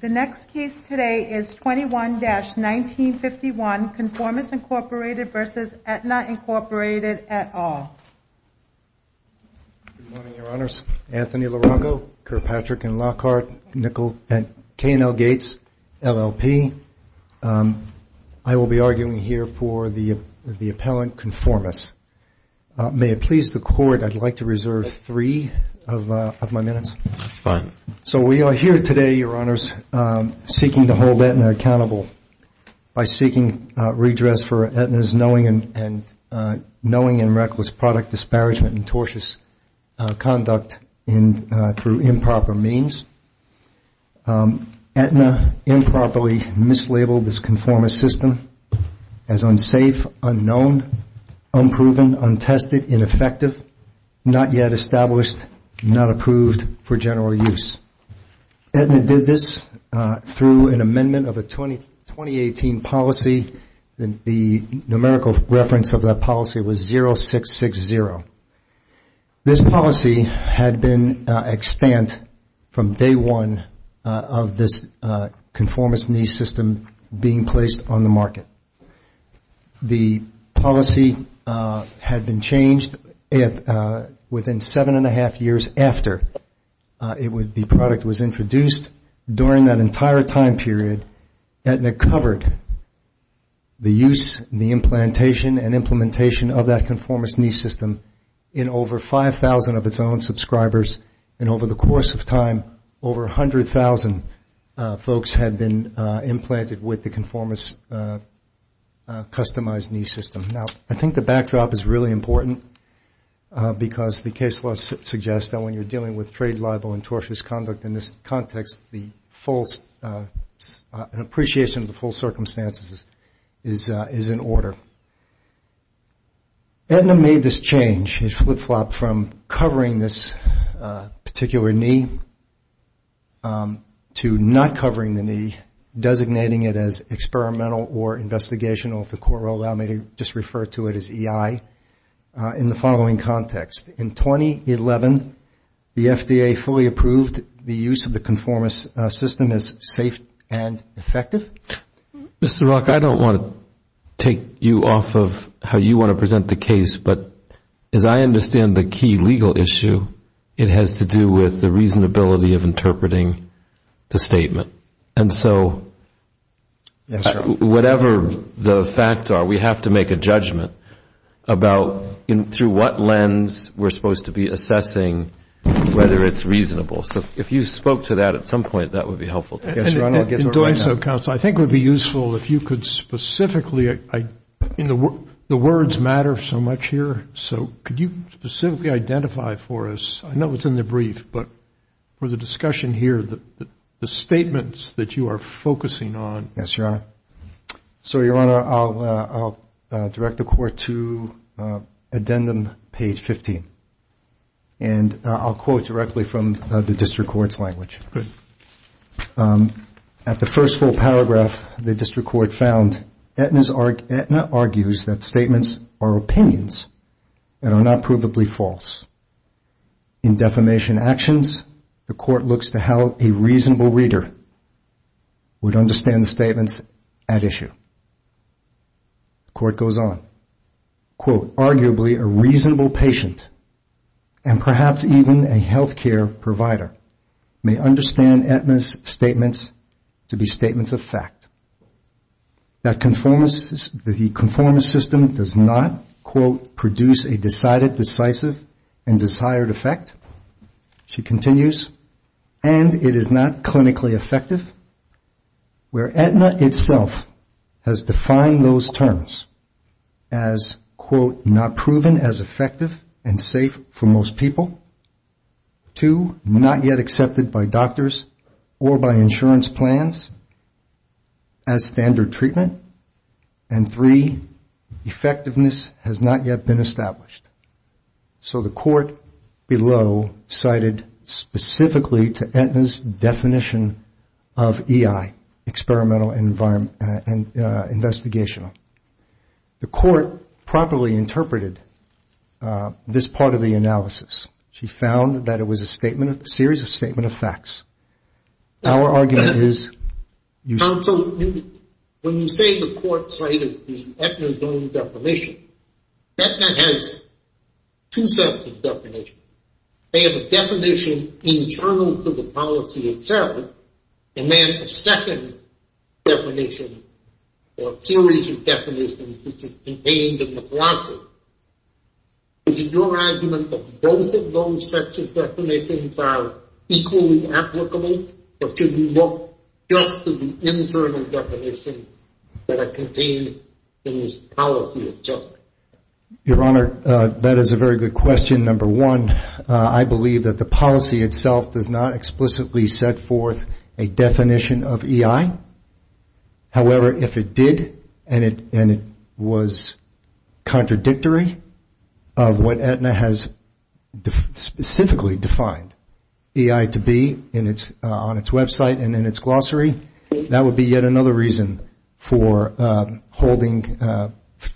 The next case today is 21-1951, Conformis, Inc. v. Aetna, Inc., et al. Good morning, Your Honors. Anthony Larongo, Kirkpatrick & Lockhart, K&L Gates, LLP. I will be arguing here for the appellant, Conformis. May it please the Court, I'd like to reserve three of my minutes. That's fine. So we are here today, Your Honors, seeking to hold Aetna accountable by seeking redress for Aetna's knowing and reckless product disparagement and tortious conduct through improper means. Aetna improperly mislabeled this Conformis system as unsafe, unknown, unproven, untested, ineffective, not yet established, not approved for general use. Aetna did this through an amendment of a 2018 policy. The numerical reference of that policy was 0660. This policy had been extant from day one of this Conformis-nee system being placed on the market. The policy had been changed within seven and a half years after the product was introduced. During that entire time period, Aetna covered the use, the implantation, and implementation of that Conformis-nee system in over 5,000 of its own subscribers. And over the course of time, over 100,000 folks had been implanted with the Conformis-customized-knee system. Now, I think the backdrop is really important because the case law suggests that when you're dealing with trade libel and tortious conduct in this context, the full appreciation of the full circumstances is in order. Aetna made this change, this flip-flop, from covering this particular knee to not covering the knee, designating it as experimental or investigational, if the court will allow me to just refer to it as EI, in the following context. In 2011, the FDA fully approved the use of the Conformis system as safe and effective. Mr. Rock, I don't want to take you off of how you want to present the case, but as I understand the key legal issue, it has to do with the reasonability of interpreting the statement. And so, whatever the facts are, we have to make a judgment about through what lens we're supposed to be assessing whether it's reasonable. So, if you spoke to that at some point, that would be helpful. Yes, Your Honor, I'll get to it right now. In doing so, counsel, I think it would be useful if you could specifically, the words matter so much here, so could you specifically identify for us, I know it's in the brief, but for the discussion here, the statements that you are focusing on. Yes, Your Honor. So, Your Honor, I'll direct the court to addendum page 15. And I'll quote directly from the district court's language. Good. At the first full paragraph, the district court found, Aetna argues that statements are opinions and are not provably false. In defamation actions, the court looks to how a reasonable reader would understand the statements at issue. The court goes on. Quote, arguably a reasonable patient and perhaps even a health care provider may understand Aetna's statements to be statements of fact. That the conformance system does not, quote, produce a decided, decisive, and desired effect. She continues, and it is not clinically effective. Where Aetna itself has defined those terms as, quote, not proven as effective and safe for most people. Two, not yet accepted by doctors or by insurance plans as standard treatment. And three, effectiveness has not yet been established. So the court below cited specifically to Aetna's definition of EI, experimental and investigational. The court properly interpreted this part of the analysis. She found that it was a series of statement of facts. Our argument is. Council, when you say the court cited the Aetna's own definition, Aetna has two sets of definitions. They have a definition internal to the policy itself, and then a second definition, or series of definitions, which is contained in the logic. Is it your argument that both of those sets of definitions are equally applicable? Or should we look just to the internal definition that are contained in this policy itself? Your Honor, that is a very good question. Number one, I believe that the policy itself does not explicitly set forth a definition of EI. However, if it did, and it was contradictory of what Aetna has specifically defined EI to be on its website and in its glossary, that would be yet another reason for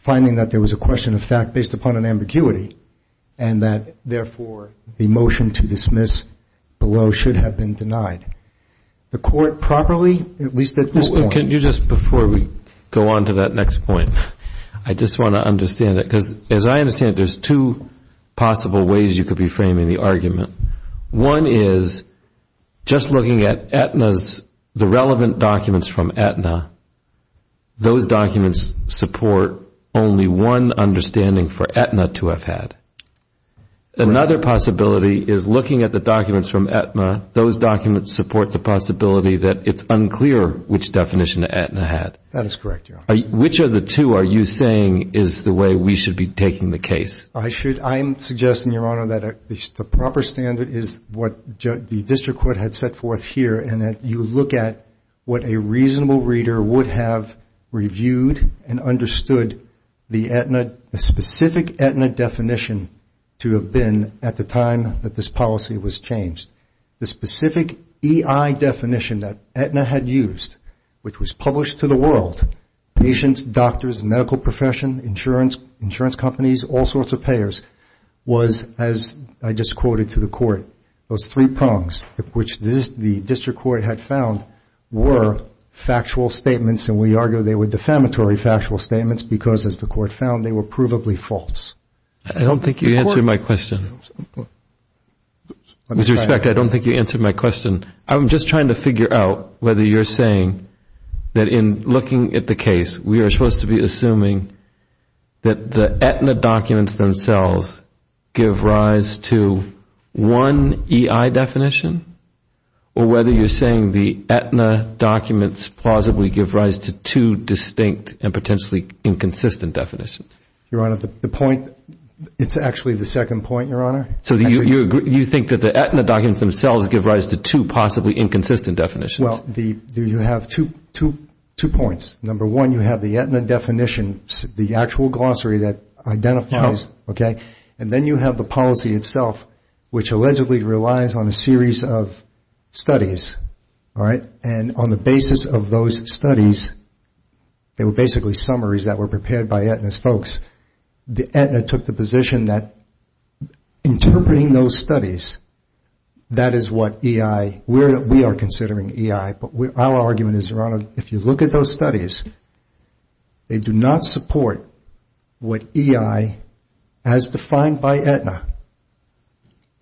finding that there was a question of fact based upon an ambiguity, and that, therefore, the motion to dismiss below should have been denied. The court properly, at least at this point. Can you just, before we go on to that next point, I just want to understand that. Because as I understand it, there's two possible ways you could be framing the argument. One is just looking at Aetna's, the relevant documents from Aetna, those documents support only one understanding for Aetna to have had. Another possibility is looking at the documents from Aetna. Those documents support the possibility that it's unclear which definition Aetna had. That is correct, Your Honor. Which of the two are you saying is the way we should be taking the case? I'm suggesting, Your Honor, that at least the proper standard is what the district court had set forth here, and that you look at what a reasonable reader would have reviewed and understood the specific Aetna definition. to have been at the time that this policy was changed. The specific EI definition that Aetna had used, which was published to the world, patients, doctors, medical profession, insurance companies, all sorts of payers, was, as I just quoted to the court, those three prongs which the district court had found were factual statements, and we argue they were defamatory factual statements because, as the court found, they were provably false. I don't think you answered my question. With respect, I don't think you answered my question. I'm just trying to figure out whether you're saying that in looking at the case, we are supposed to be assuming that the Aetna documents themselves give rise to one EI definition, or whether you're saying the Aetna documents plausibly give rise to two distinct and potentially inconsistent definitions. Your Honor, the point, it's actually the second point, Your Honor. So you think that the Aetna documents themselves give rise to two possibly inconsistent definitions? Well, you have two points. Number one, you have the Aetna definition, the actual glossary that identifies, okay? And then you have the policy itself, which allegedly relies on a series of studies, all right? And on the basis of those studies, they were basically summaries that were prepared by Aetna's folks. The Aetna took the position that interpreting those studies, that is what EI, we are considering EI. But our argument is, Your Honor, if you look at those studies, they do not support what EI, as defined by Aetna,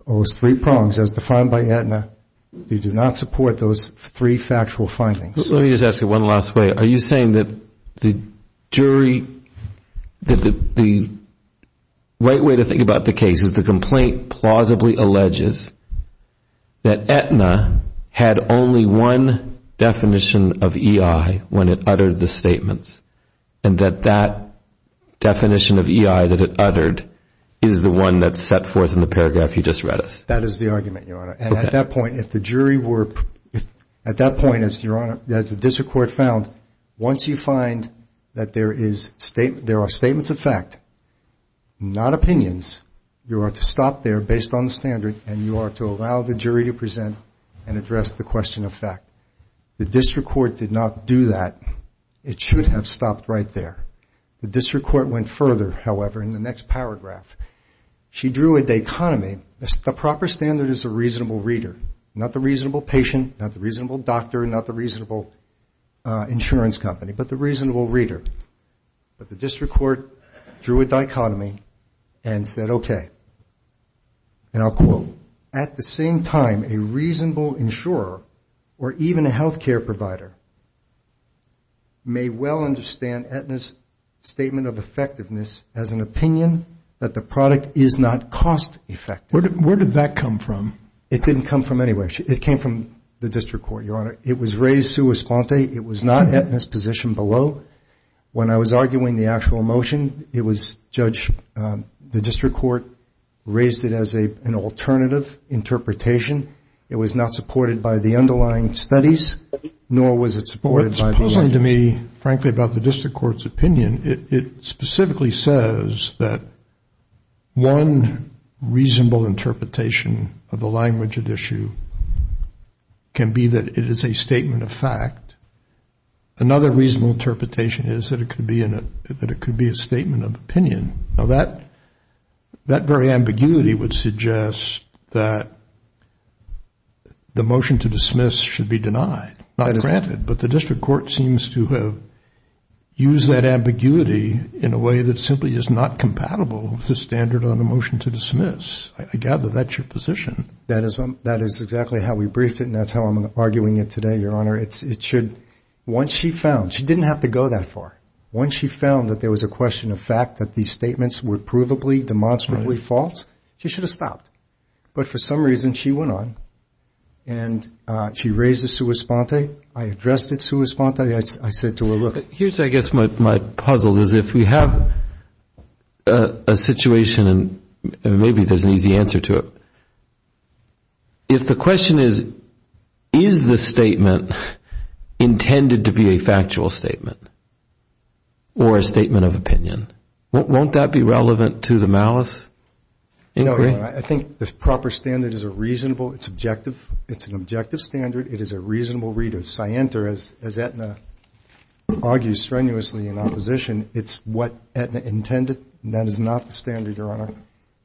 those three prongs, as defined by Aetna, they do not support those three factual findings. Let me just ask you one last way. Are you saying that the jury, that the right way to think about the case is the complaint plausibly alleges that Aetna had only one definition of EI when it uttered the statements, and that that definition of EI that it uttered is the one that's set forth in the paragraph you just read us? That is the argument, Your Honor. And at that point, if the jury were, at that point, as the district court found, once you find that there are statements of fact, not opinions, you are to stop there based on the standard, and you are to allow the jury to present and address the question of fact. The district court did not do that. It should have stopped right there. The district court went further, however, in the next paragraph. She drew a dichotomy. The proper standard is a reasonable reader, not the reasonable patient, not the reasonable doctor, not the reasonable insurance company, but the reasonable reader. But the district court drew a dichotomy and said, okay, and I'll quote, at the same time, a reasonable insurer or even a health care provider may well understand Aetna's statement of effectiveness as an opinion that the product is not cost effective. Where did that come from? It didn't come from anywhere. It came from the district court, Your Honor. It was raised sua sponte. It was not Aetna's position below. When I was arguing the actual motion, it was, Judge, the district court raised it as an alternative interpretation. It was not supported by the underlying studies, nor was it supported by the- It's puzzling to me, frankly, about the district court's opinion. It specifically says that one reasonable interpretation of the language at issue can be that it is a statement of fact. Another reasonable interpretation is that it could be a statement of opinion. Now, that very ambiguity would suggest that the motion to dismiss should be denied, not granted. But the district court seems to have used that ambiguity in a way that simply is not compatible with the standard on a motion to dismiss. I gather that's your position. That is exactly how we briefed it, and that's how I'm arguing it today, Your Honor. Once she found- she didn't have to go that far. Once she found that there was a question of fact, that these statements were provably, demonstrably false, she should have stopped. But for some reason, she went on, and she raised it sua sponte. I addressed it sua sponte. I said to her, look- Here's, I guess, my puzzle, is if we have a situation, and maybe there's an easy answer to it. If the question is, is the statement intended to be a factual statement or a statement of opinion? Won't that be relevant to the malice inquiry? I think the proper standard is a reasonable- it's objective. It's an objective standard. It is a reasonable read of scienter, as Aetna argues strenuously in opposition. It's what Aetna intended, and that is not the standard, Your Honor.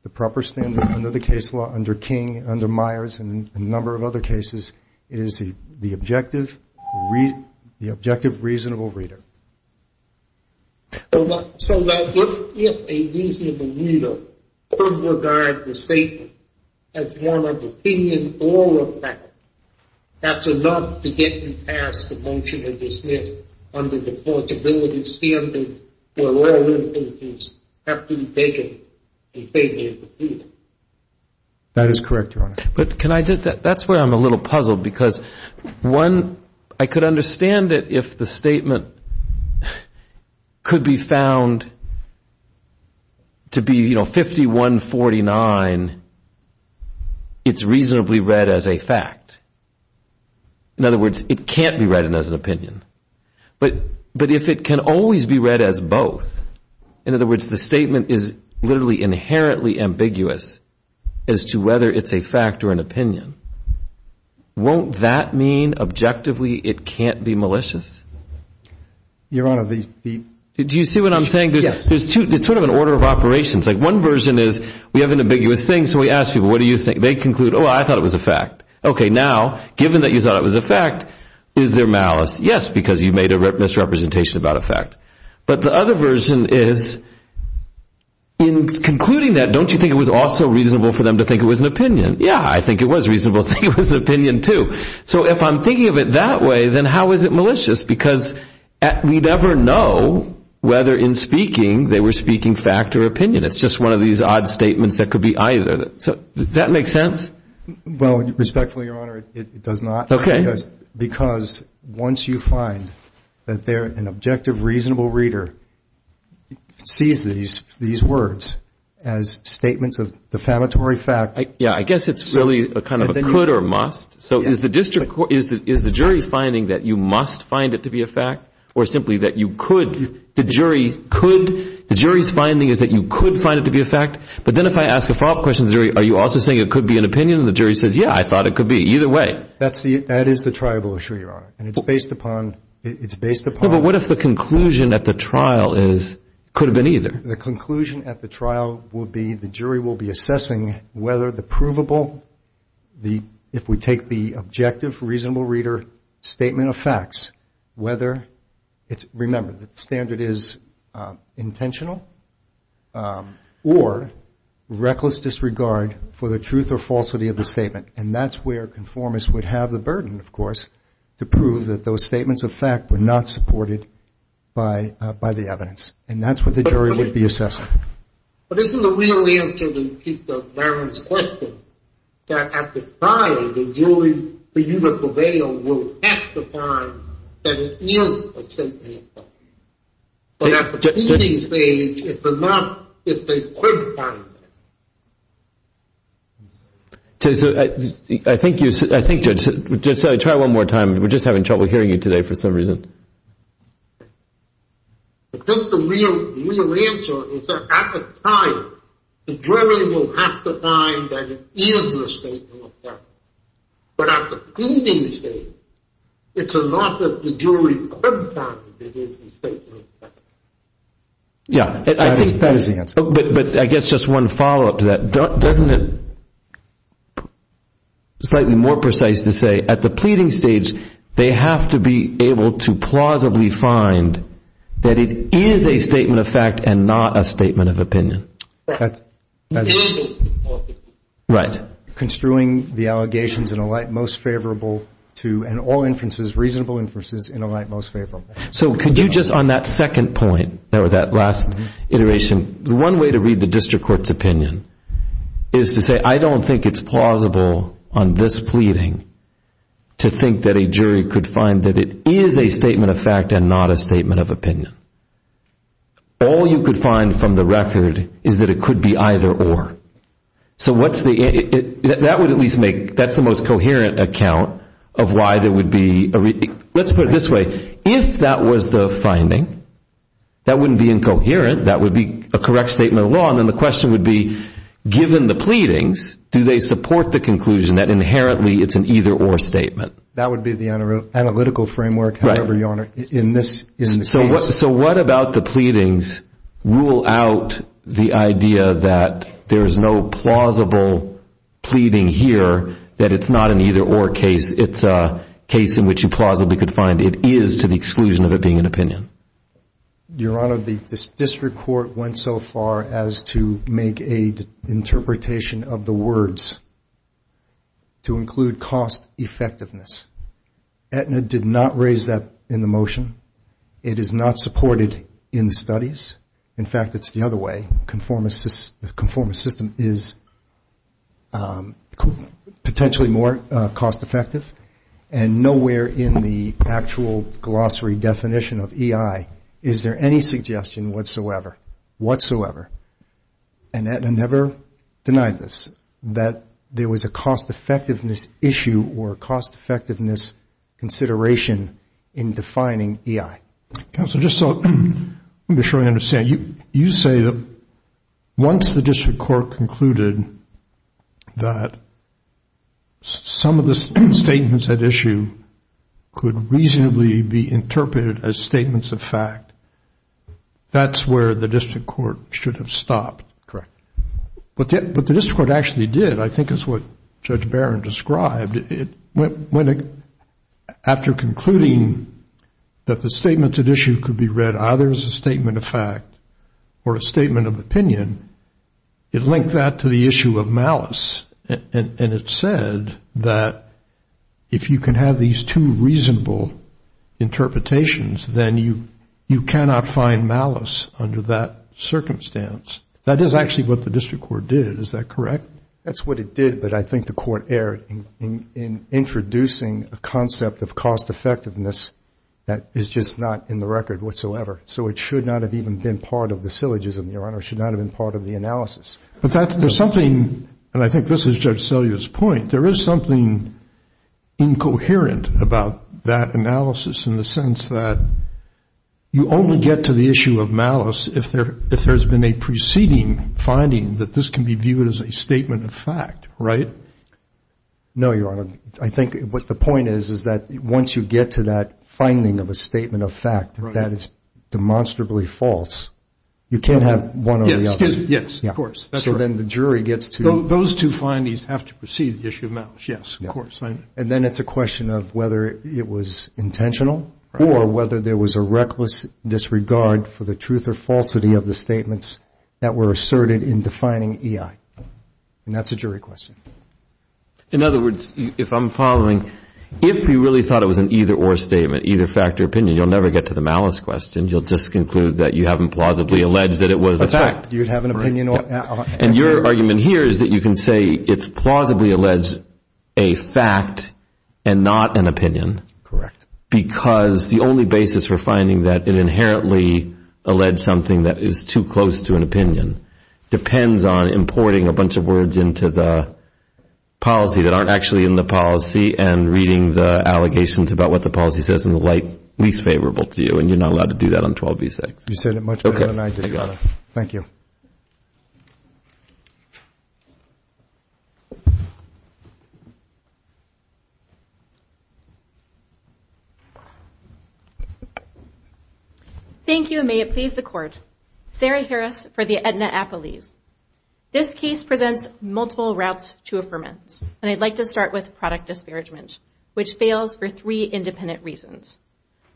The proper standard, under the case law, under King, under Myers, and a number of other cases, is the objective, the objective reasonable reader. So, look, if a reasonable reader would regard the statement as one of opinion or of fact, that's enough to get you past the motion of dismissal under the portability standard where all written opinions have to be taken and taken as an opinion. That is correct, Your Honor. But can I just- that's where I'm a little puzzled because, one, I could understand that if the statement could be found to be, you know, 51-49, it's reasonably read as a fact. In other words, it can't be read as an opinion. But if it can always be read as both, in other words, the statement is literally inherently ambiguous as to whether it's a fact or an opinion, won't that mean, objectively, it can't be malicious? Your Honor, the- Do you see what I'm saying? Yes. It's sort of an order of operations. Like, one version is we have an ambiguous thing, so we ask people, what do you think? They conclude, oh, I thought it was a fact. Okay, now, given that you thought it was a fact, is there malice? Yes, because you made a misrepresentation about a fact. But the other version is, in concluding that, don't you think it was also reasonable for them to think it was an opinion? Yeah, I think it was reasonable to think it was an opinion, too. So if I'm thinking of it that way, then how is it malicious? Because we never know whether, in speaking, they were speaking fact or opinion. It's just one of these odd statements that could be either. Does that make sense? Well, respectfully, Your Honor, it does not. Okay. Because once you find that they're an objective, reasonable reader, sees these words as statements of defamatory fact. Yeah, I guess it's really a kind of a could or must. So is the jury finding that you must find it to be a fact, or simply that you could? The jury's finding is that you could find it to be a fact. But then if I ask a follow-up question, are you also saying it could be an opinion? And the jury says, yeah, I thought it could be. Either way. That is the tribal issue, Your Honor. And it's based upon – Yeah, but what if the conclusion at the trial is it could have been either? The conclusion at the trial will be the jury will be assessing whether the provable – if we take the objective, reasonable reader statement of facts, whether – remember, the standard is intentional or reckless disregard for the truth or falsity of the statement. And that's where conformists would have the burden, of course, to prove that those statements of fact were not supported by the evidence. And that's what the jury would be assessing. But isn't the real answer to Barron's question that at the trial, the jury, the jury will prevail at the time that it is a statement of fact. But at the proceeding stage, if they could find it. So I think you – I think, Judge, try one more time. We're just having trouble hearing you today for some reason. I think the real answer is that at the trial, the jury will have to find that it is a statement of fact. But at the proceeding stage, it's a loss of the jury every time that it is a statement of fact. Yeah. That is the answer. But I guess just one follow-up to that. Doesn't it – slightly more precise to say, at the pleading stage, they have to be able to plausibly find that it is a statement of fact and not a statement of opinion. That's – Right. Construing the allegations in a light most favorable to – and all inferences, reasonable inferences in a light most favorable. So could you just, on that second point, or that last iteration, one way to read the district court's opinion is to say, I don't think it's plausible on this pleading to think that a jury could find that it is a statement of fact and not a statement of opinion. All you could find from the record is that it could be either or. So what's the – that would at least make – that's the most coherent account of why there would be – let's put it this way. If that was the finding, that wouldn't be incoherent. That would be a correct statement of law. And then the question would be, given the pleadings, do they support the conclusion that inherently it's an either or statement? That would be the analytical framework, however, Your Honor, in this case. So what about the pleadings rule out the idea that there is no plausible pleading here, that it's not an either or case. It's a case in which you plausibly could find it is to the exclusion of it being an opinion. Your Honor, this district court went so far as to make a interpretation of the words to include cost effectiveness. Aetna did not raise that in the motion. It is not supported in the studies. In fact, it's the other way. Conformist system is potentially more cost effective. And nowhere in the actual glossary definition of EI is there any suggestion whatsoever, whatsoever, and Aetna never denied this, that there was a cost effectiveness issue or a cost effectiveness consideration in defining EI. Counsel, just so I'm sure I understand, you say that once the district court concluded that some of the statements at issue could reasonably be interpreted as statements of fact, that's where the district court should have stopped. Correct. But the district court actually did. I think it's what Judge Barron described. After concluding that the statements at issue could be read either as a statement of fact or a statement of opinion, it linked that to the issue of malice. And it said that if you can have these two reasonable interpretations, then you cannot find malice under that circumstance. That is actually what the district court did. Is that correct? That's what it did. But I think the court erred in introducing a concept of cost effectiveness that is just not in the record whatsoever. So it should not have even been part of the syllogism, Your Honor. It should not have been part of the analysis. But there's something, and I think this is Judge Selye's point, there is something incoherent about that analysis in the sense that you only get to the issue of malice if there's been a preceding finding that this can be viewed as a statement of fact, right? No, Your Honor. I think what the point is is that once you get to that finding of a statement of fact, that is demonstrably false, you can't have one or the other. Yes, of course. So then the jury gets to- Those two findings have to precede the issue of malice. Yes, of course. And then it's a question of whether it was intentional or whether there was a reckless disregard for the truth or falsity of the statements that were asserted in defining EI. And that's a jury question. In other words, if I'm following, if you really thought it was an either-or statement, either fact or opinion, you'll never get to the malice question. You'll just conclude that you haven't plausibly alleged that it was a fact. That's right. You'd have an opinion or- And your argument here is that you can say it's plausibly alleged a fact and not an opinion. Correct. Because the only basis for finding that it inherently alleged something that is too close to an opinion depends on importing a bunch of words into the policy that aren't actually in the policy and reading the allegations about what the policy says in the light least favorable to you. And you're not allowed to do that on 12b-6. You said it much better than I did. Okay. I got it. Thank you. Thank you, and may it please the Court. Sarah Harris for the Aetna Appellees. This case presents multiple routes to affirmance. And I'd like to start with product disparagement, which fails for three independent reasons.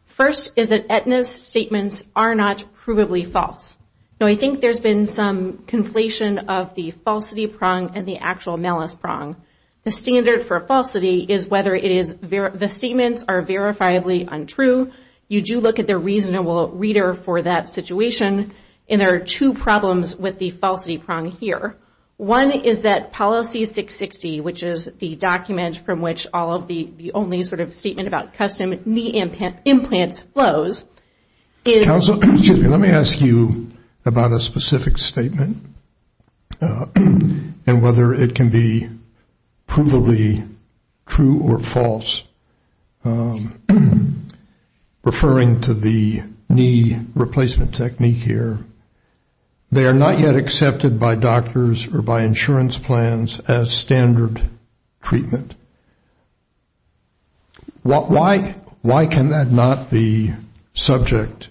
First is that Aetna's statements are not provably false. Now, I think there's been some conflation of the falsity prong and the actual malice prong. The standard for falsity is whether the statements are verifiably untrue. You do look at the reasonable reader for that situation. And there are two problems with the falsity prong here. One is that policy 660, which is the document from which all of the only sort of statement about custom knee implants flows, is... Counsel, excuse me. Let me ask you about a specific statement and whether it can be provably true or false. Referring to the knee replacement technique here, they are not yet accepted by doctors or by insurance plans as standard treatment. Why can that not be subject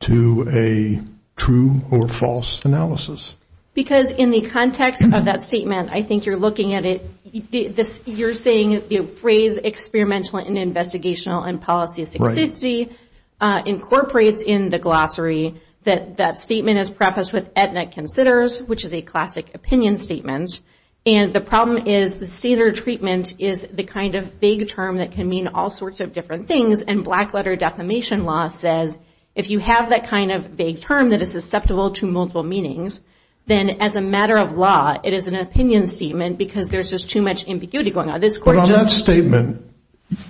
to a true or false analysis? Because in the context of that statement, I think you're looking at it... You're saying the phrase experimental and investigational and policy 660 incorporates in the glossary that that statement is prefaced with Aetna considers, which is a classic opinion statement. And the problem is the standard treatment is the kind of vague term that can mean all sorts of different things. And black letter defamation law says if you have that kind of vague term that is susceptible to multiple meanings, then as a matter of law, it is an opinion statement because there's just too much ambiguity going on. This court just... But on that statement,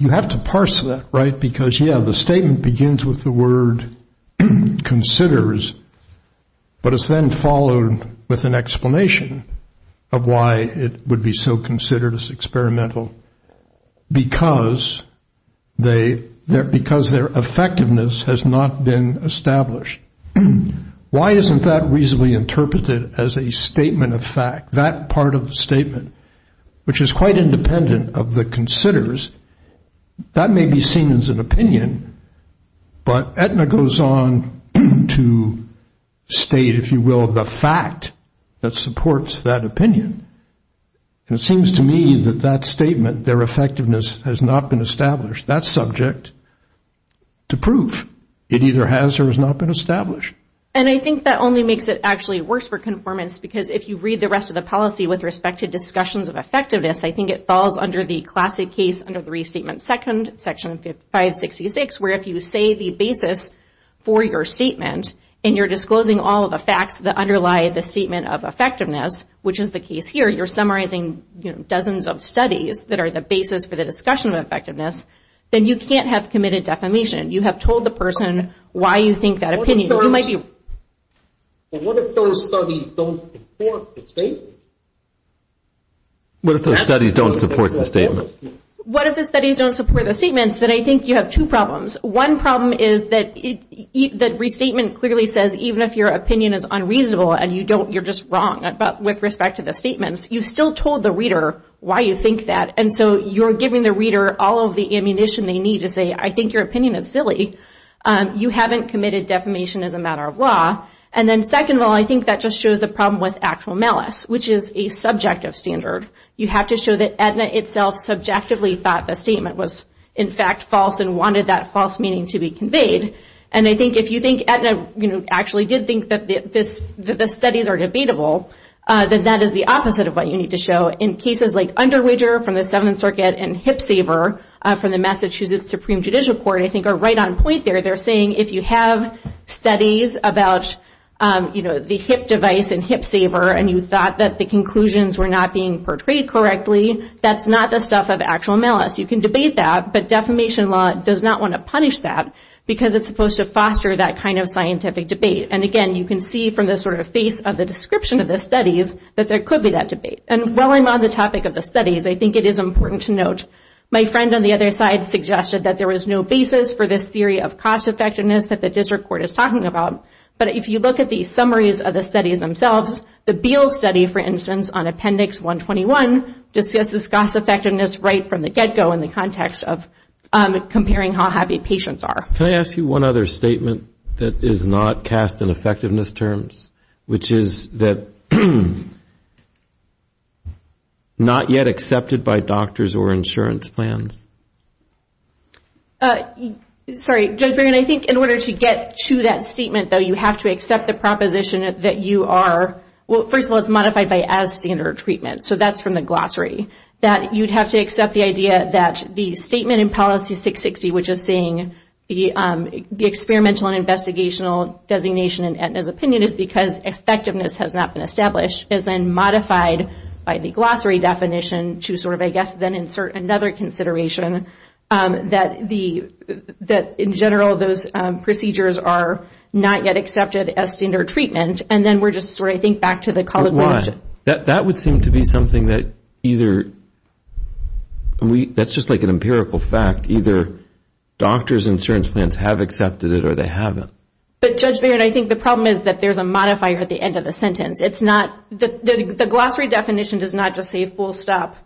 you have to parse that, right? Because, yeah, the statement begins with the word considers, but it's then followed with an explanation of why it would be so considered as experimental. Because their effectiveness has not been established. Why isn't that reasonably interpreted as a statement of fact? That part of the statement, which is quite independent of the considers, that may be seen as an opinion. But Aetna goes on to state, if you will, the fact that supports that opinion. And it seems to me that that statement, their effectiveness has not been established. That's subject to proof. It either has or has not been established. And I think that only makes it actually worse for conformance because if you read the rest of the policy with respect to discussions of effectiveness, I think it falls under the classic case under the Restatement 2nd, Section 566, where if you say the basis for your statement, and you're disclosing all of the facts that underlie the statement of effectiveness, which is the case here, you're summarizing dozens of studies that are the basis for the discussion of effectiveness, then you can't have committed defamation. You have told the person why you think that opinion. What if those studies don't support the statement? What if those studies don't support the statement? What if the studies don't support the statements, then I think you have two problems. One problem is that Restatement clearly says even if your opinion is unreasonable, and you're just wrong with respect to the statements, you've still told the reader why you think that. And so you're giving the reader all of the ammunition they need to say, I think your opinion is silly. You haven't committed defamation as a matter of law. And then second of all, I think that just shows the problem with actual malice, which is a subjective standard. You have to show that Aetna itself subjectively thought the statement was, in fact, false and wanted that false meaning to be conveyed. And I think if you think Aetna actually did think that the studies are debatable, then that is the opposite of what you need to show. In cases like Underwager from the Seventh Circuit and Hip Saver from the Massachusetts Supreme Judicial Court, I think are right on point there. They're saying if you have studies about the hip device and hip saver, and you thought that the conclusions were not being portrayed correctly, that's not the stuff of actual malice. You can debate that, but defamation law does not want to punish that because it's supposed to foster that kind of scientific debate. And again, you can see from the sort of face of the description of the studies, that there could be that debate. And while I'm on the topic of the studies, I think it is important to note, my friend on the other side suggested that there was no basis for this theory of cost effectiveness that the district court is talking about. But if you look at the summaries of the studies themselves, the Beals study, for instance, on Appendix 121, discusses cost effectiveness right from the get-go in the context of comparing how happy patients are. Can I ask you one other statement that is not cast in effectiveness terms, which is that not yet accepted by doctors or insurance plans? Sorry, Judge Barron, I think in order to get to that statement though, you have to accept the proposition that you are, well, first of all, it's modified by as standard treatment, so that's from the glossary, that you'd have to accept the idea that the statement in Policy 660, which is saying the experimental and investigational designation in Aetna's opinion is because effectiveness has not been established, is then modified by the glossary definition to sort of, I guess, then insert another consideration that in general those procedures are not yet accepted as standard treatment. And then we're just sort of, I think, back to the colloquial... But why? That would seem to be something that either... That's just like an empirical fact. Either doctors and insurance plans have accepted it or they haven't. But Judge Barron, I think the problem is that there's a modifier at the end of the sentence. The glossary definition does not just say full stop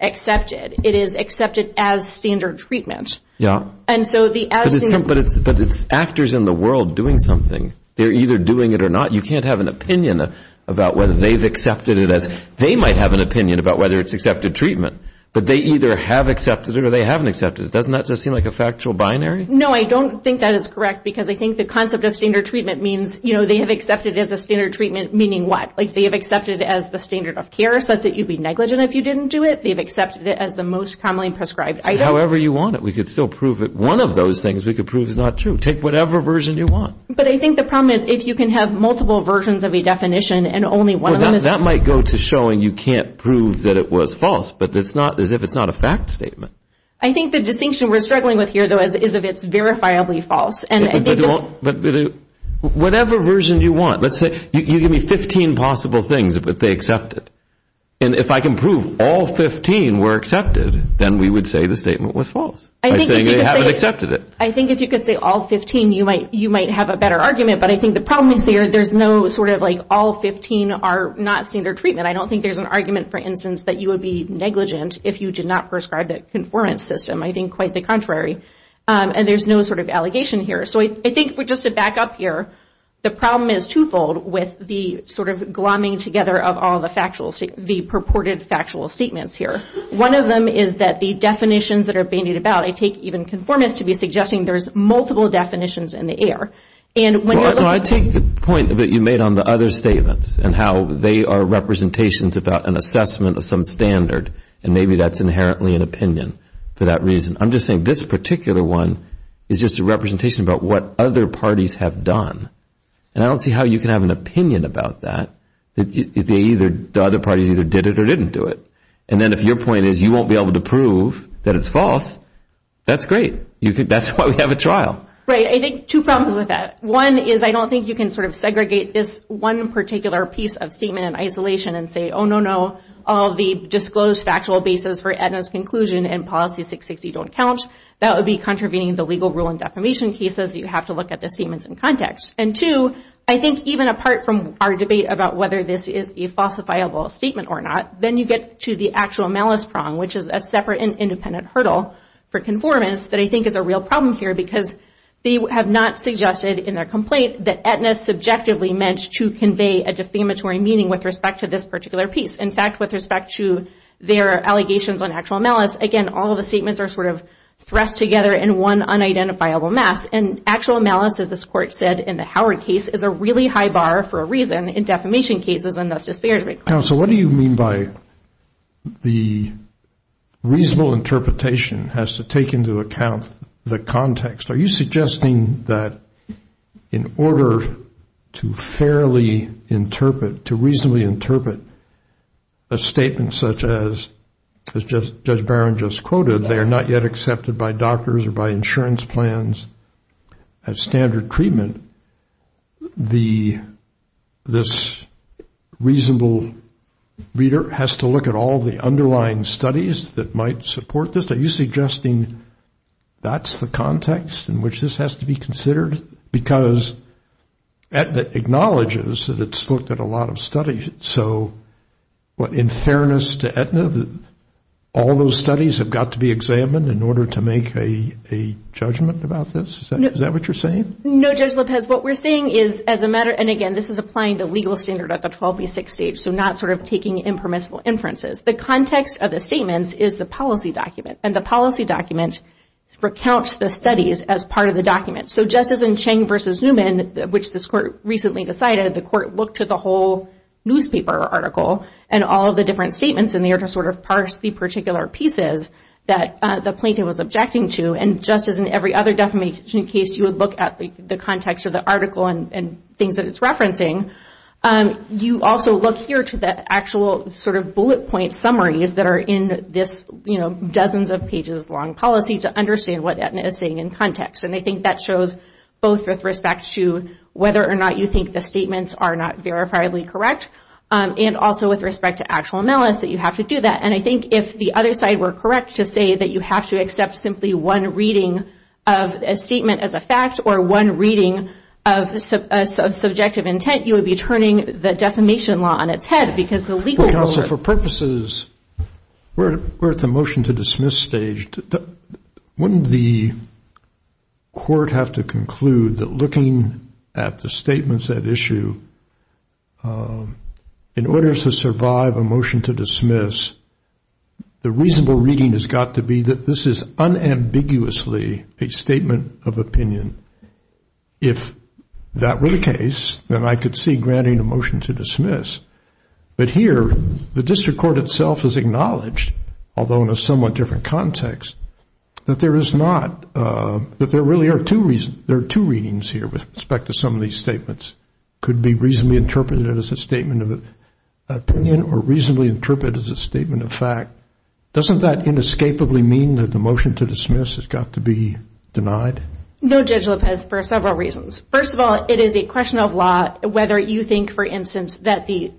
accepted. It is accepted as standard treatment. But it's actors in the world doing something. They're either doing it or not. You can't have an opinion about whether they've accepted it as... They might have an opinion about whether it's accepted treatment, but they either have accepted it or they haven't accepted it. Doesn't that just seem like a factual binary? No, I don't think that is correct, because I think the concept of standard treatment means they have accepted it as a standard treatment, meaning what? Like they have accepted it as the standard of care, so that you'd be negligent if you didn't do it. They've accepted it as the most commonly prescribed item. However you want it. We could still prove it. One of those things we could prove is not true. Take whatever version you want. But I think the problem is if you can have multiple versions of a definition and only one of them is true... That might go to showing you can't prove that it was false, but it's not as if it's not a fact statement. I think the distinction we're struggling with here is that it's verifiably false. Whatever version you want. Let's say you give me 15 possible things that they accepted. And if I can prove all 15 were accepted, then we would say the statement was false. By saying they haven't accepted it. I think if you could say all 15, you might have a better argument, but I think the problem is there's no sort of like all 15 are not standard treatment. I don't think there's an argument for instance that you would be negligent if you did not prescribe that conformance system. I think quite the contrary. And there's no sort of allegation here. So I think just to back up here, the problem is twofold with the glomming together of all the purported factual statements here. One of them is that the definitions that are bandied about, I take even conformance to be suggesting there's multiple definitions in the air. I take the point that you made on the other statements and how they are representations about an assessment of some standard and maybe that's inherently an opinion for that reason. I'm just saying this particular one is just a representation about what other parties have done. And I don't see how you can have an opinion about that if the other parties either did it or didn't do it. And then if your point is you won't be able to prove that it's false, that's great. That's why we have a trial. Right. I think two problems with that. One is I don't think you can sort of segregate this one particular piece of statement in isolation and say, oh, no, no, all the disclosed factual basis for Aetna's conclusion and Policy 660 don't count. That would be contravening the legal rule in defamation cases. You have to look at the statements in context. And two, I think even apart from our debate about whether this is a falsifiable statement or not, then you get to the actual malice prong, which is a separate and independent hurdle for conformance that I think is a real problem here because they have not suggested in their complaint that Aetna subjectively meant to convey a defamatory meaning with respect to this particular piece. In fact, with respect to their allegations on actual malice, again, all of the statements are sort of thrust together in one unidentifiable mess. And actual malice, as this Court said in the Howard case, is a really high bar for a reason in defamation cases and thus disparagement claims. So what do you mean by the reasonable interpretation has to take into account the context? Are you suggesting that in order to fairly interpret, to reasonably interpret a statement such as Judge Barron just quoted, they are not yet accepted by doctors or by insurance plans as standard treatment, this reasonable reader has to look at all the underlying studies a statement such as Judge Barron just quoted, are you suggesting that's the context in which this has to be considered? Because Aetna acknowledges that it's looked at a lot of studies. So in fairness to Aetna, all those studies have got to be examined in order to make a judgment about this? Is that what you're saying? No, Judge Lopez, what we're saying is as a matter, and again, this is applying the legal standard at the 12B6 stage, so not sort of taking impermissible inferences. The context of the statements is the policy document, and the policy document recounts the studies as part of the document. So just as in Chang v. Newman, which this court recently decided, the court looked at the whole newspaper article and all the different statements in there to sort of parse the particular pieces that the plaintiff was objecting to, and just as in every other defamation case, you would look at the context of the article and things that it's referencing. You also look here to the actual sort of bullet point summaries that are in this dozens of pages long policy to understand what Aetna is saying in context. And I think that shows both with respect to whether or not you think the statements are not verifiably correct, and also with respect to actual analysis, that you have to do that. And I think if the other side were correct to say that you have to accept simply one reading of a statement as a fact or one reading of subjective intent, you would be turning the defamation law on its head because the legal world... Counsel, for purposes... We're at the motion to dismiss stage. Wouldn't the court have to conclude that looking at the statements at issue in order to survive a motion to dismiss, the reasonable reading has got to be that this is unambiguously a statement of opinion. If that were the case, then I could see granting a motion to dismiss. But here, the district court itself has acknowledged, although in a somewhat different context, that there really are two readings here with respect to some of these statements. Could be reasonably interpreted as a statement of opinion or reasonably interpreted as a statement of fact. Doesn't that inescapably mean that the motion to dismiss has got to be denied? No, Judge Lopez, for several reasons. First of all, it is a question of law whether you think, for instance, that the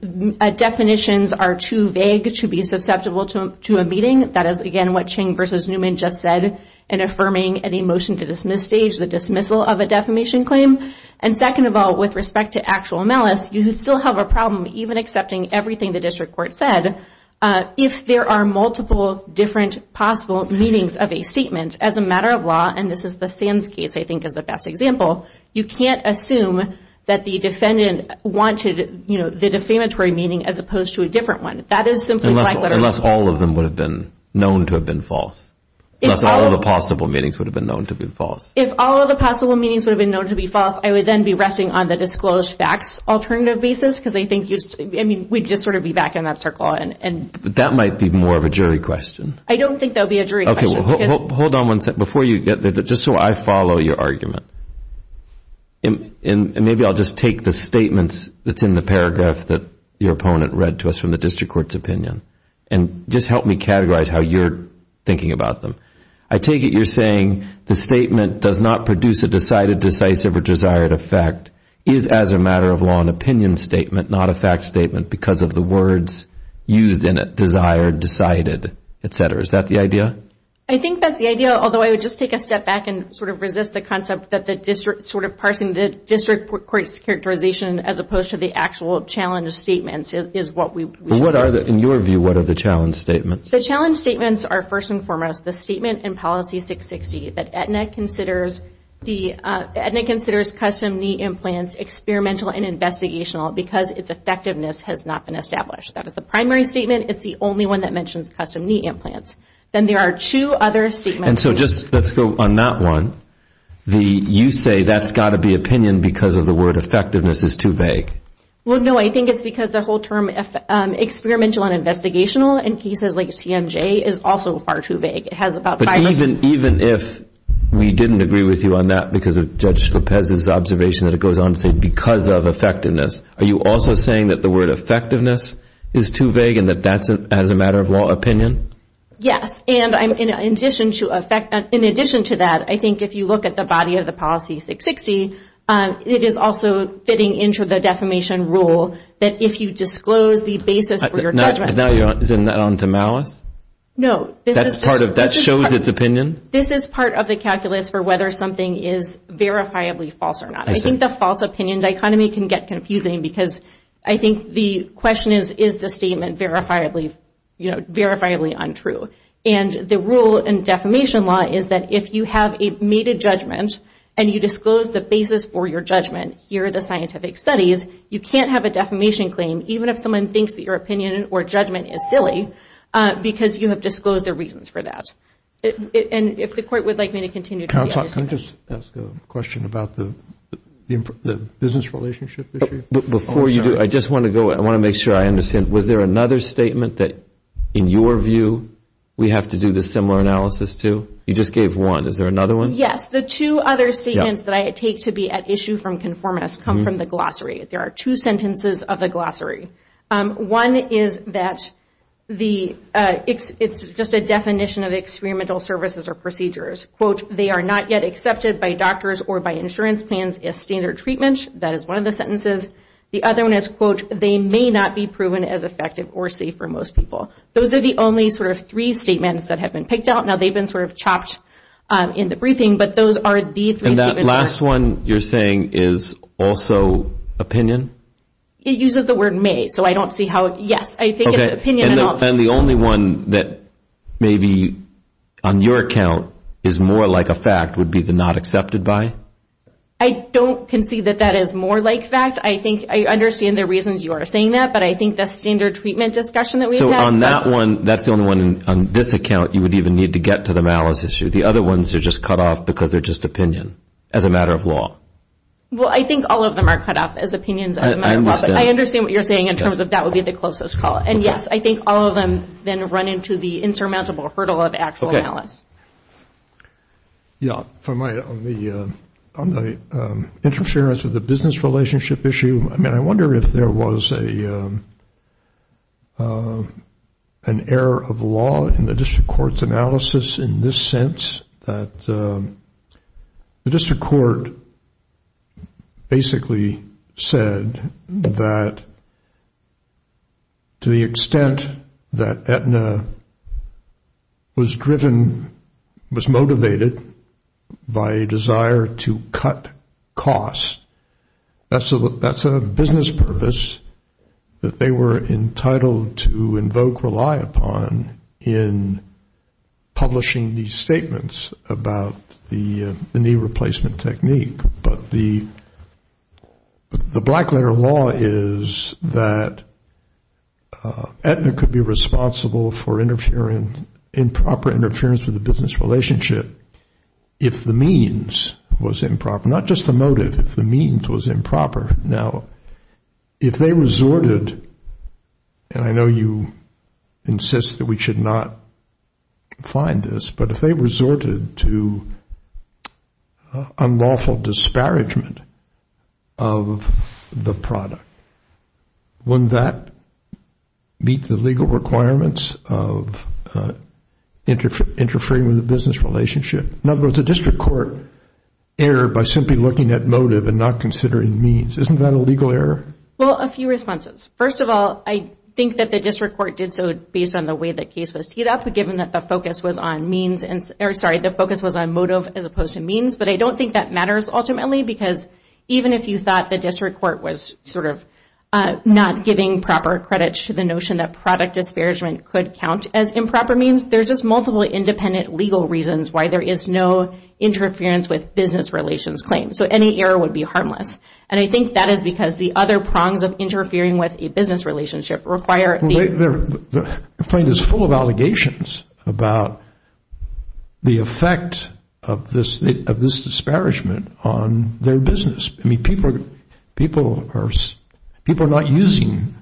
definitions are too vague to be susceptible to a meeting. That is, again, what Ching v. Newman just said in affirming a motion to dismiss stage, the dismissal of a defamation claim. And second of all, with respect to actual malice, you still have a problem even accepting everything the district court said. If there are multiple different possible meanings of a statement as a matter of law, and this is the Sands case I think is the best example, you can't assume that the defendant wanted the defamatory meaning as opposed to a different one. Unless all of them would have been known to have been false. Unless all of the possible meanings would have been known to be false. If all of the possible meanings would have been known to be false, I would then be resting on the disclosed facts alternative basis because I think we'd just sort of be back in that circle. But that might be more of a jury question. I don't think that would be a jury question. Hold on one second. Just so I follow your argument. Maybe I'll just take the statements that's in the paragraph that your opponent read to us from the district court's opinion and just help me categorize how you're thinking about them. I take it you're saying the statement does not produce a decided, decisive, or desired effect. It is as a matter of law an opinion statement, not a fact statement because of the words used in it. Desired, decided, etc. Is that the idea? I think that's the idea, although I would just take a step back and sort of resist the concept that parsing the district court's characterization as opposed to the actual challenge statements is what we should do. In your view, what are the challenge statements? The challenge statements are first and foremost the statement in Policy 660 that Aetna considers custom knee implants experimental and investigational because its effectiveness has not been established. That is the primary statement. It's the only one that mentions custom knee implants. Then there are two other statements. Let's go on that one. You say that's got to be opinion because of the word effectiveness is too vague. I think it's because the whole term experimental and investigational in cases like CMJ is also far too vague. Even if we didn't agree with you on that because of Judge Lopez's observation that it goes on to say because of effectiveness, are you also saying that the word effectiveness is too vague and that that's as a matter of law opinion? Yes. In addition to that, I think if you look at the body of the Policy 660, it is also fitting into the defamation rule that if you disclose the basis for your judgment... Is it not on to malice? That shows its opinion? This is part of the calculus for whether something is verifiably false or not. I think the false opinion dichotomy can get confusing because I think the question is, is the statement verifiably untrue? The rule in defamation law is that if you have made a judgment and you disclose the basis for your judgment, here are the scientific studies, you can't have a defamation claim even if someone thinks that your opinion or judgment is silly because you have disclosed the reasons for that. If the Court would like me to continue... Can I just ask a question about the business relationship issue? Before you do, I just want to make sure I understand. Was there another statement that, in your view, we have to do the similar analysis to? You just gave one. Is there another one? Yes. The two other statements that I take to be at issue from conformance come from the glossary. There are two sentences of the glossary. One is that it's just a definition of experimental services or procedures. They are not yet accepted by doctors or by insurance plans as standard treatment. That is one of the sentences. The other one is, quote, they may not be proven as effective or safe for most people. Those are the only sort of three statements that have been picked out. Now, they've been sort of chopped in the briefing, but those are the three statements. And that last one you're saying is also opinion? It uses the word may, so I don't see how... Yes, I think it's opinion. And the only one that maybe, on your account, is more like a fact would be the not accepted by? I don't concede that that is more like fact. I think I understand the reasons you are saying that, but I think the standard treatment discussion that we have... So on that one, that's the only one on this account you would even need to get to the malice issue. The other ones are just cut off because they're just opinion as a matter of law. Well, I think all of them are cut off as opinions as a matter of law. I understand. I understand what you're saying in terms of that would be the closest call. And yes, I think all of them then run into the insurmountable hurdle of actual malice. Yeah, if I might, on the interference of the business relationship issue, I mean, I wonder if there was an error of law in the district court's analysis in this sense that the district court basically said that to the extent that Aetna was driven, was motivated by a desire to cut costs, that's a business purpose that they were entitled to invoke, rely upon in publishing these statements about the knee replacement technique. But the black letter law is that Aetna could be responsible for improper interference with the business relationship if the means was improper. Not just the motive, if the means was improper. Now, if they resorted, and I know you insist that we should not find this, but if they resorted to unlawful disparagement of the product, wouldn't that meet the legal requirements of interfering with the business relationship? In other words, the district court erred by simply looking at motive and not considering means. Isn't that a legal error? Well, a few responses. First of all, I think that the district court did so based on the way the case was teed up, given that the focus was on means, or sorry, the focus was on motive as opposed to means, but I don't think that matters ultimately, because even if you thought the district court was sort of not giving proper credit to the notion that product disparagement could count as improper means, there's just multiple independent legal reasons why there is no interference with business relations claims. So any error would be harmless. And I think that is because the other prongs of interfering with a business relationship require... The point is they're full of allegations about the effect of this disparagement on their business. I mean, people are not using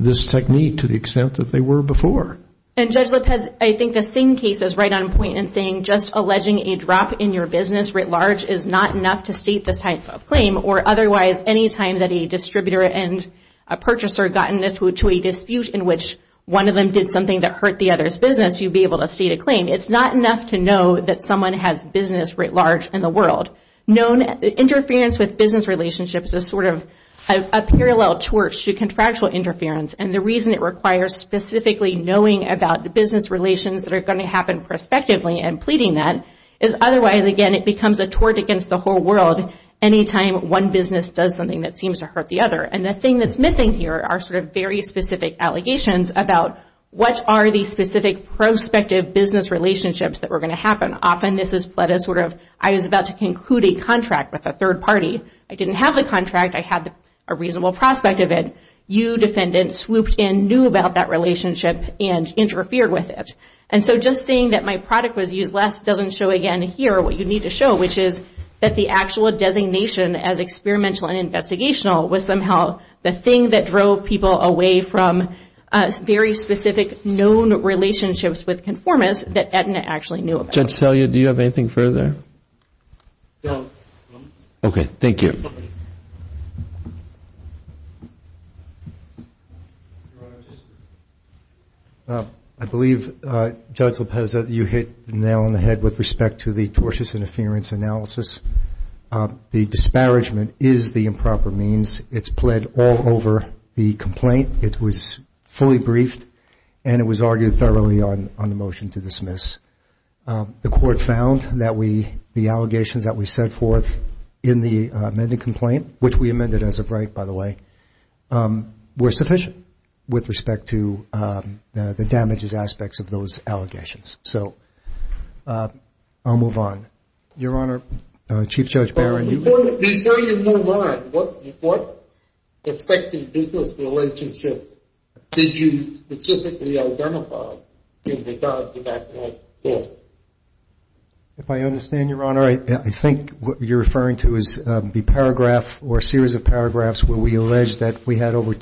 this technique to the extent that they were before. And Judge Lipp has, I think, the same case as right on point in saying just alleging a drop in your business writ large is not enough to state this type of claim, or otherwise any time that a distributor and a purchaser gotten into a dispute in which one of them did something that hurt the other's business, you'd be able to state a claim. It's not enough to know that someone has business writ large in the world. Interference with business relationships is sort of a parallel torch to contractual interference, and the reason it requires specifically knowing about business relations that are going to happen prospectively and pleading that is otherwise, again, it becomes a torch against the whole world any time one business does something that seems to hurt the other. And the thing that's missing here are very specific allegations about what are the specific prospective business relationships that were going to happen. Often this is pled as sort of, I was about to conclude a contract with a third party. I didn't have the contract. I had a reasonable prospect of it. You, defendant, swooped in, knew about that relationship, and interfered with it. And so just saying that my product was used less doesn't show again here what you need to show, which is that the actual designation as experimental and investigational was somehow the thing that drove people away from very specific known relationships with conformists that Edna actually knew about. Judge Selya, do you have anything further? No. Okay, thank you. I believe, Judge Lopeza, you hit the nail on the head with respect to the tortious interference analysis. The disparagement is the improper means. It's pled all over the complaint. It was fully briefed, and it was argued thoroughly on the motion to dismiss. The court found that the allegations that we set forth in the amended complaint, which we amended as of right, by the way, were sufficient with respect to the damages aspects of those I'll move on. Your Honor, Chief Judge Barron. Before you move on, what expected business relationship did you specifically identify in regard to that case? If I understand your Honor, I think what you're referring to is the paragraph or series of paragraphs where we allege that we had over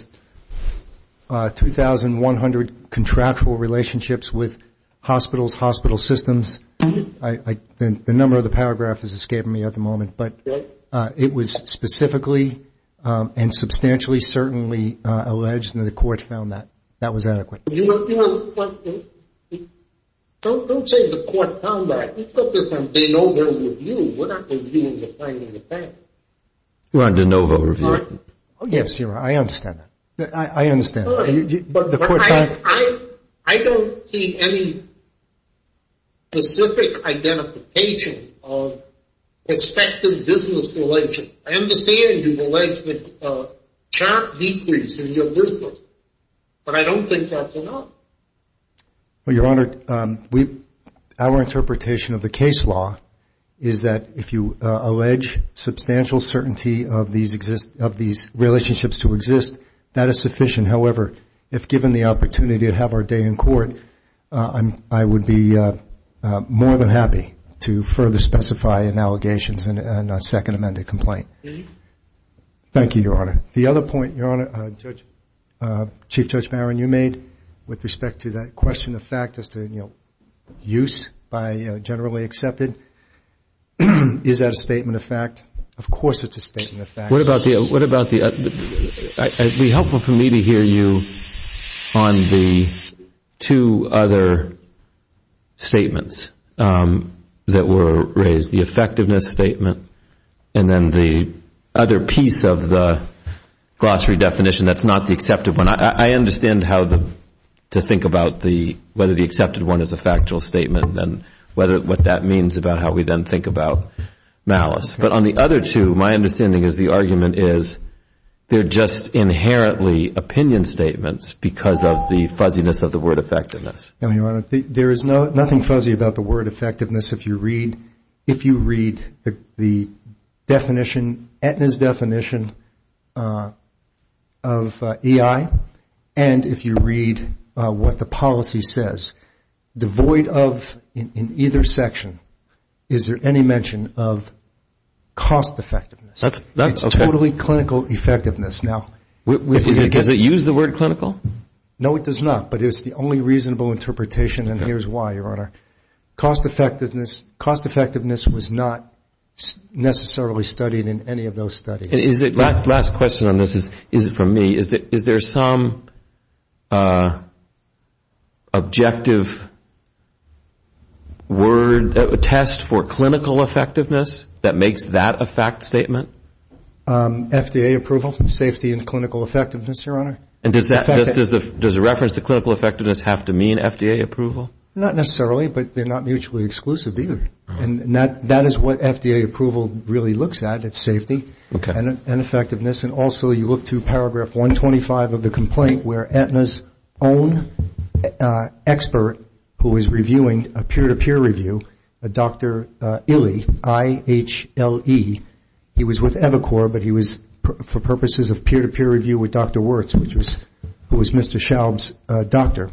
2,100 contractual relationships with hospitals, hospital systems. The number of the paragraph has escaped me at the moment, but it was specifically and substantially certainly alleged, and the court found that. That was adequate. Don't say the court found that. We're not reviewing the finding of facts. We're on de novo review. Yes, Your Honor, I understand that. I don't see any specific identification of respective business relations. I understand you've alleged a sharp decrease in your business, but I don't think that's enough. Your Honor, our interpretation of the case law is that if you allege substantial certainty of these relationships to exist, that is sufficient. However, if given the opportunity to have our day in court, I would be more than happy to further specify in allegations and a second amended complaint. Thank you, Your Honor. Chief Judge Barron, you made with respect to that question of fact as to use by generally accepted. Is that a statement of fact? Of course it's a statement of fact. It would be helpful for me to hear you on the two other statements that were raised, the effectiveness statement and then the other piece of the glossary definition that's not the accepted one. I understand how to think about whether the accepted one is a factual statement and what that means about how we then think about malice. But on the other two, my understanding is the argument is they're just inherently opinion statements because of the fuzziness of the word effectiveness. There is nothing fuzzy about the word effectiveness if you read the definition, Aetna's definition of EI and if you read what the policy says. Devoid of, in either section, is there any mention of cost effectiveness. It's totally clinical effectiveness. Does it use the word clinical? No, it does not, but it's the only reasonable interpretation and here's why, Your Honor. Cost effectiveness was not necessarily studied in any of those studies. Last question on this is from me. Is there some objective test for clinical effectiveness that makes that a fact statement? FDA approval, safety and clinical effectiveness, Your Honor. And does the reference to clinical effectiveness have to mean FDA approval? Not necessarily, but they're not mutually exclusive either. And that is what FDA approval really looks at, it's safety and effectiveness. And also you look to paragraph 125 of the complaint where Aetna's own expert who was reviewing a peer-to-peer review, Dr. Ille, I-H-L-E, he was with Evacor, but he was for purposes of peer-to-peer review with Dr. Wirtz, who was Mr. Schaub's doctor.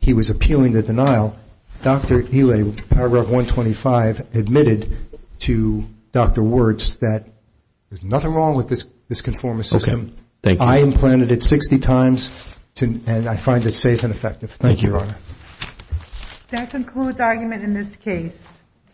He was appealing the denial. Dr. Ille, paragraph 125, admitted to Dr. Wirtz that there's nothing wrong with this conformist system. I implanted it 60 times and I find it safe and effective. Thank you, Your Honor. That concludes argument in this case.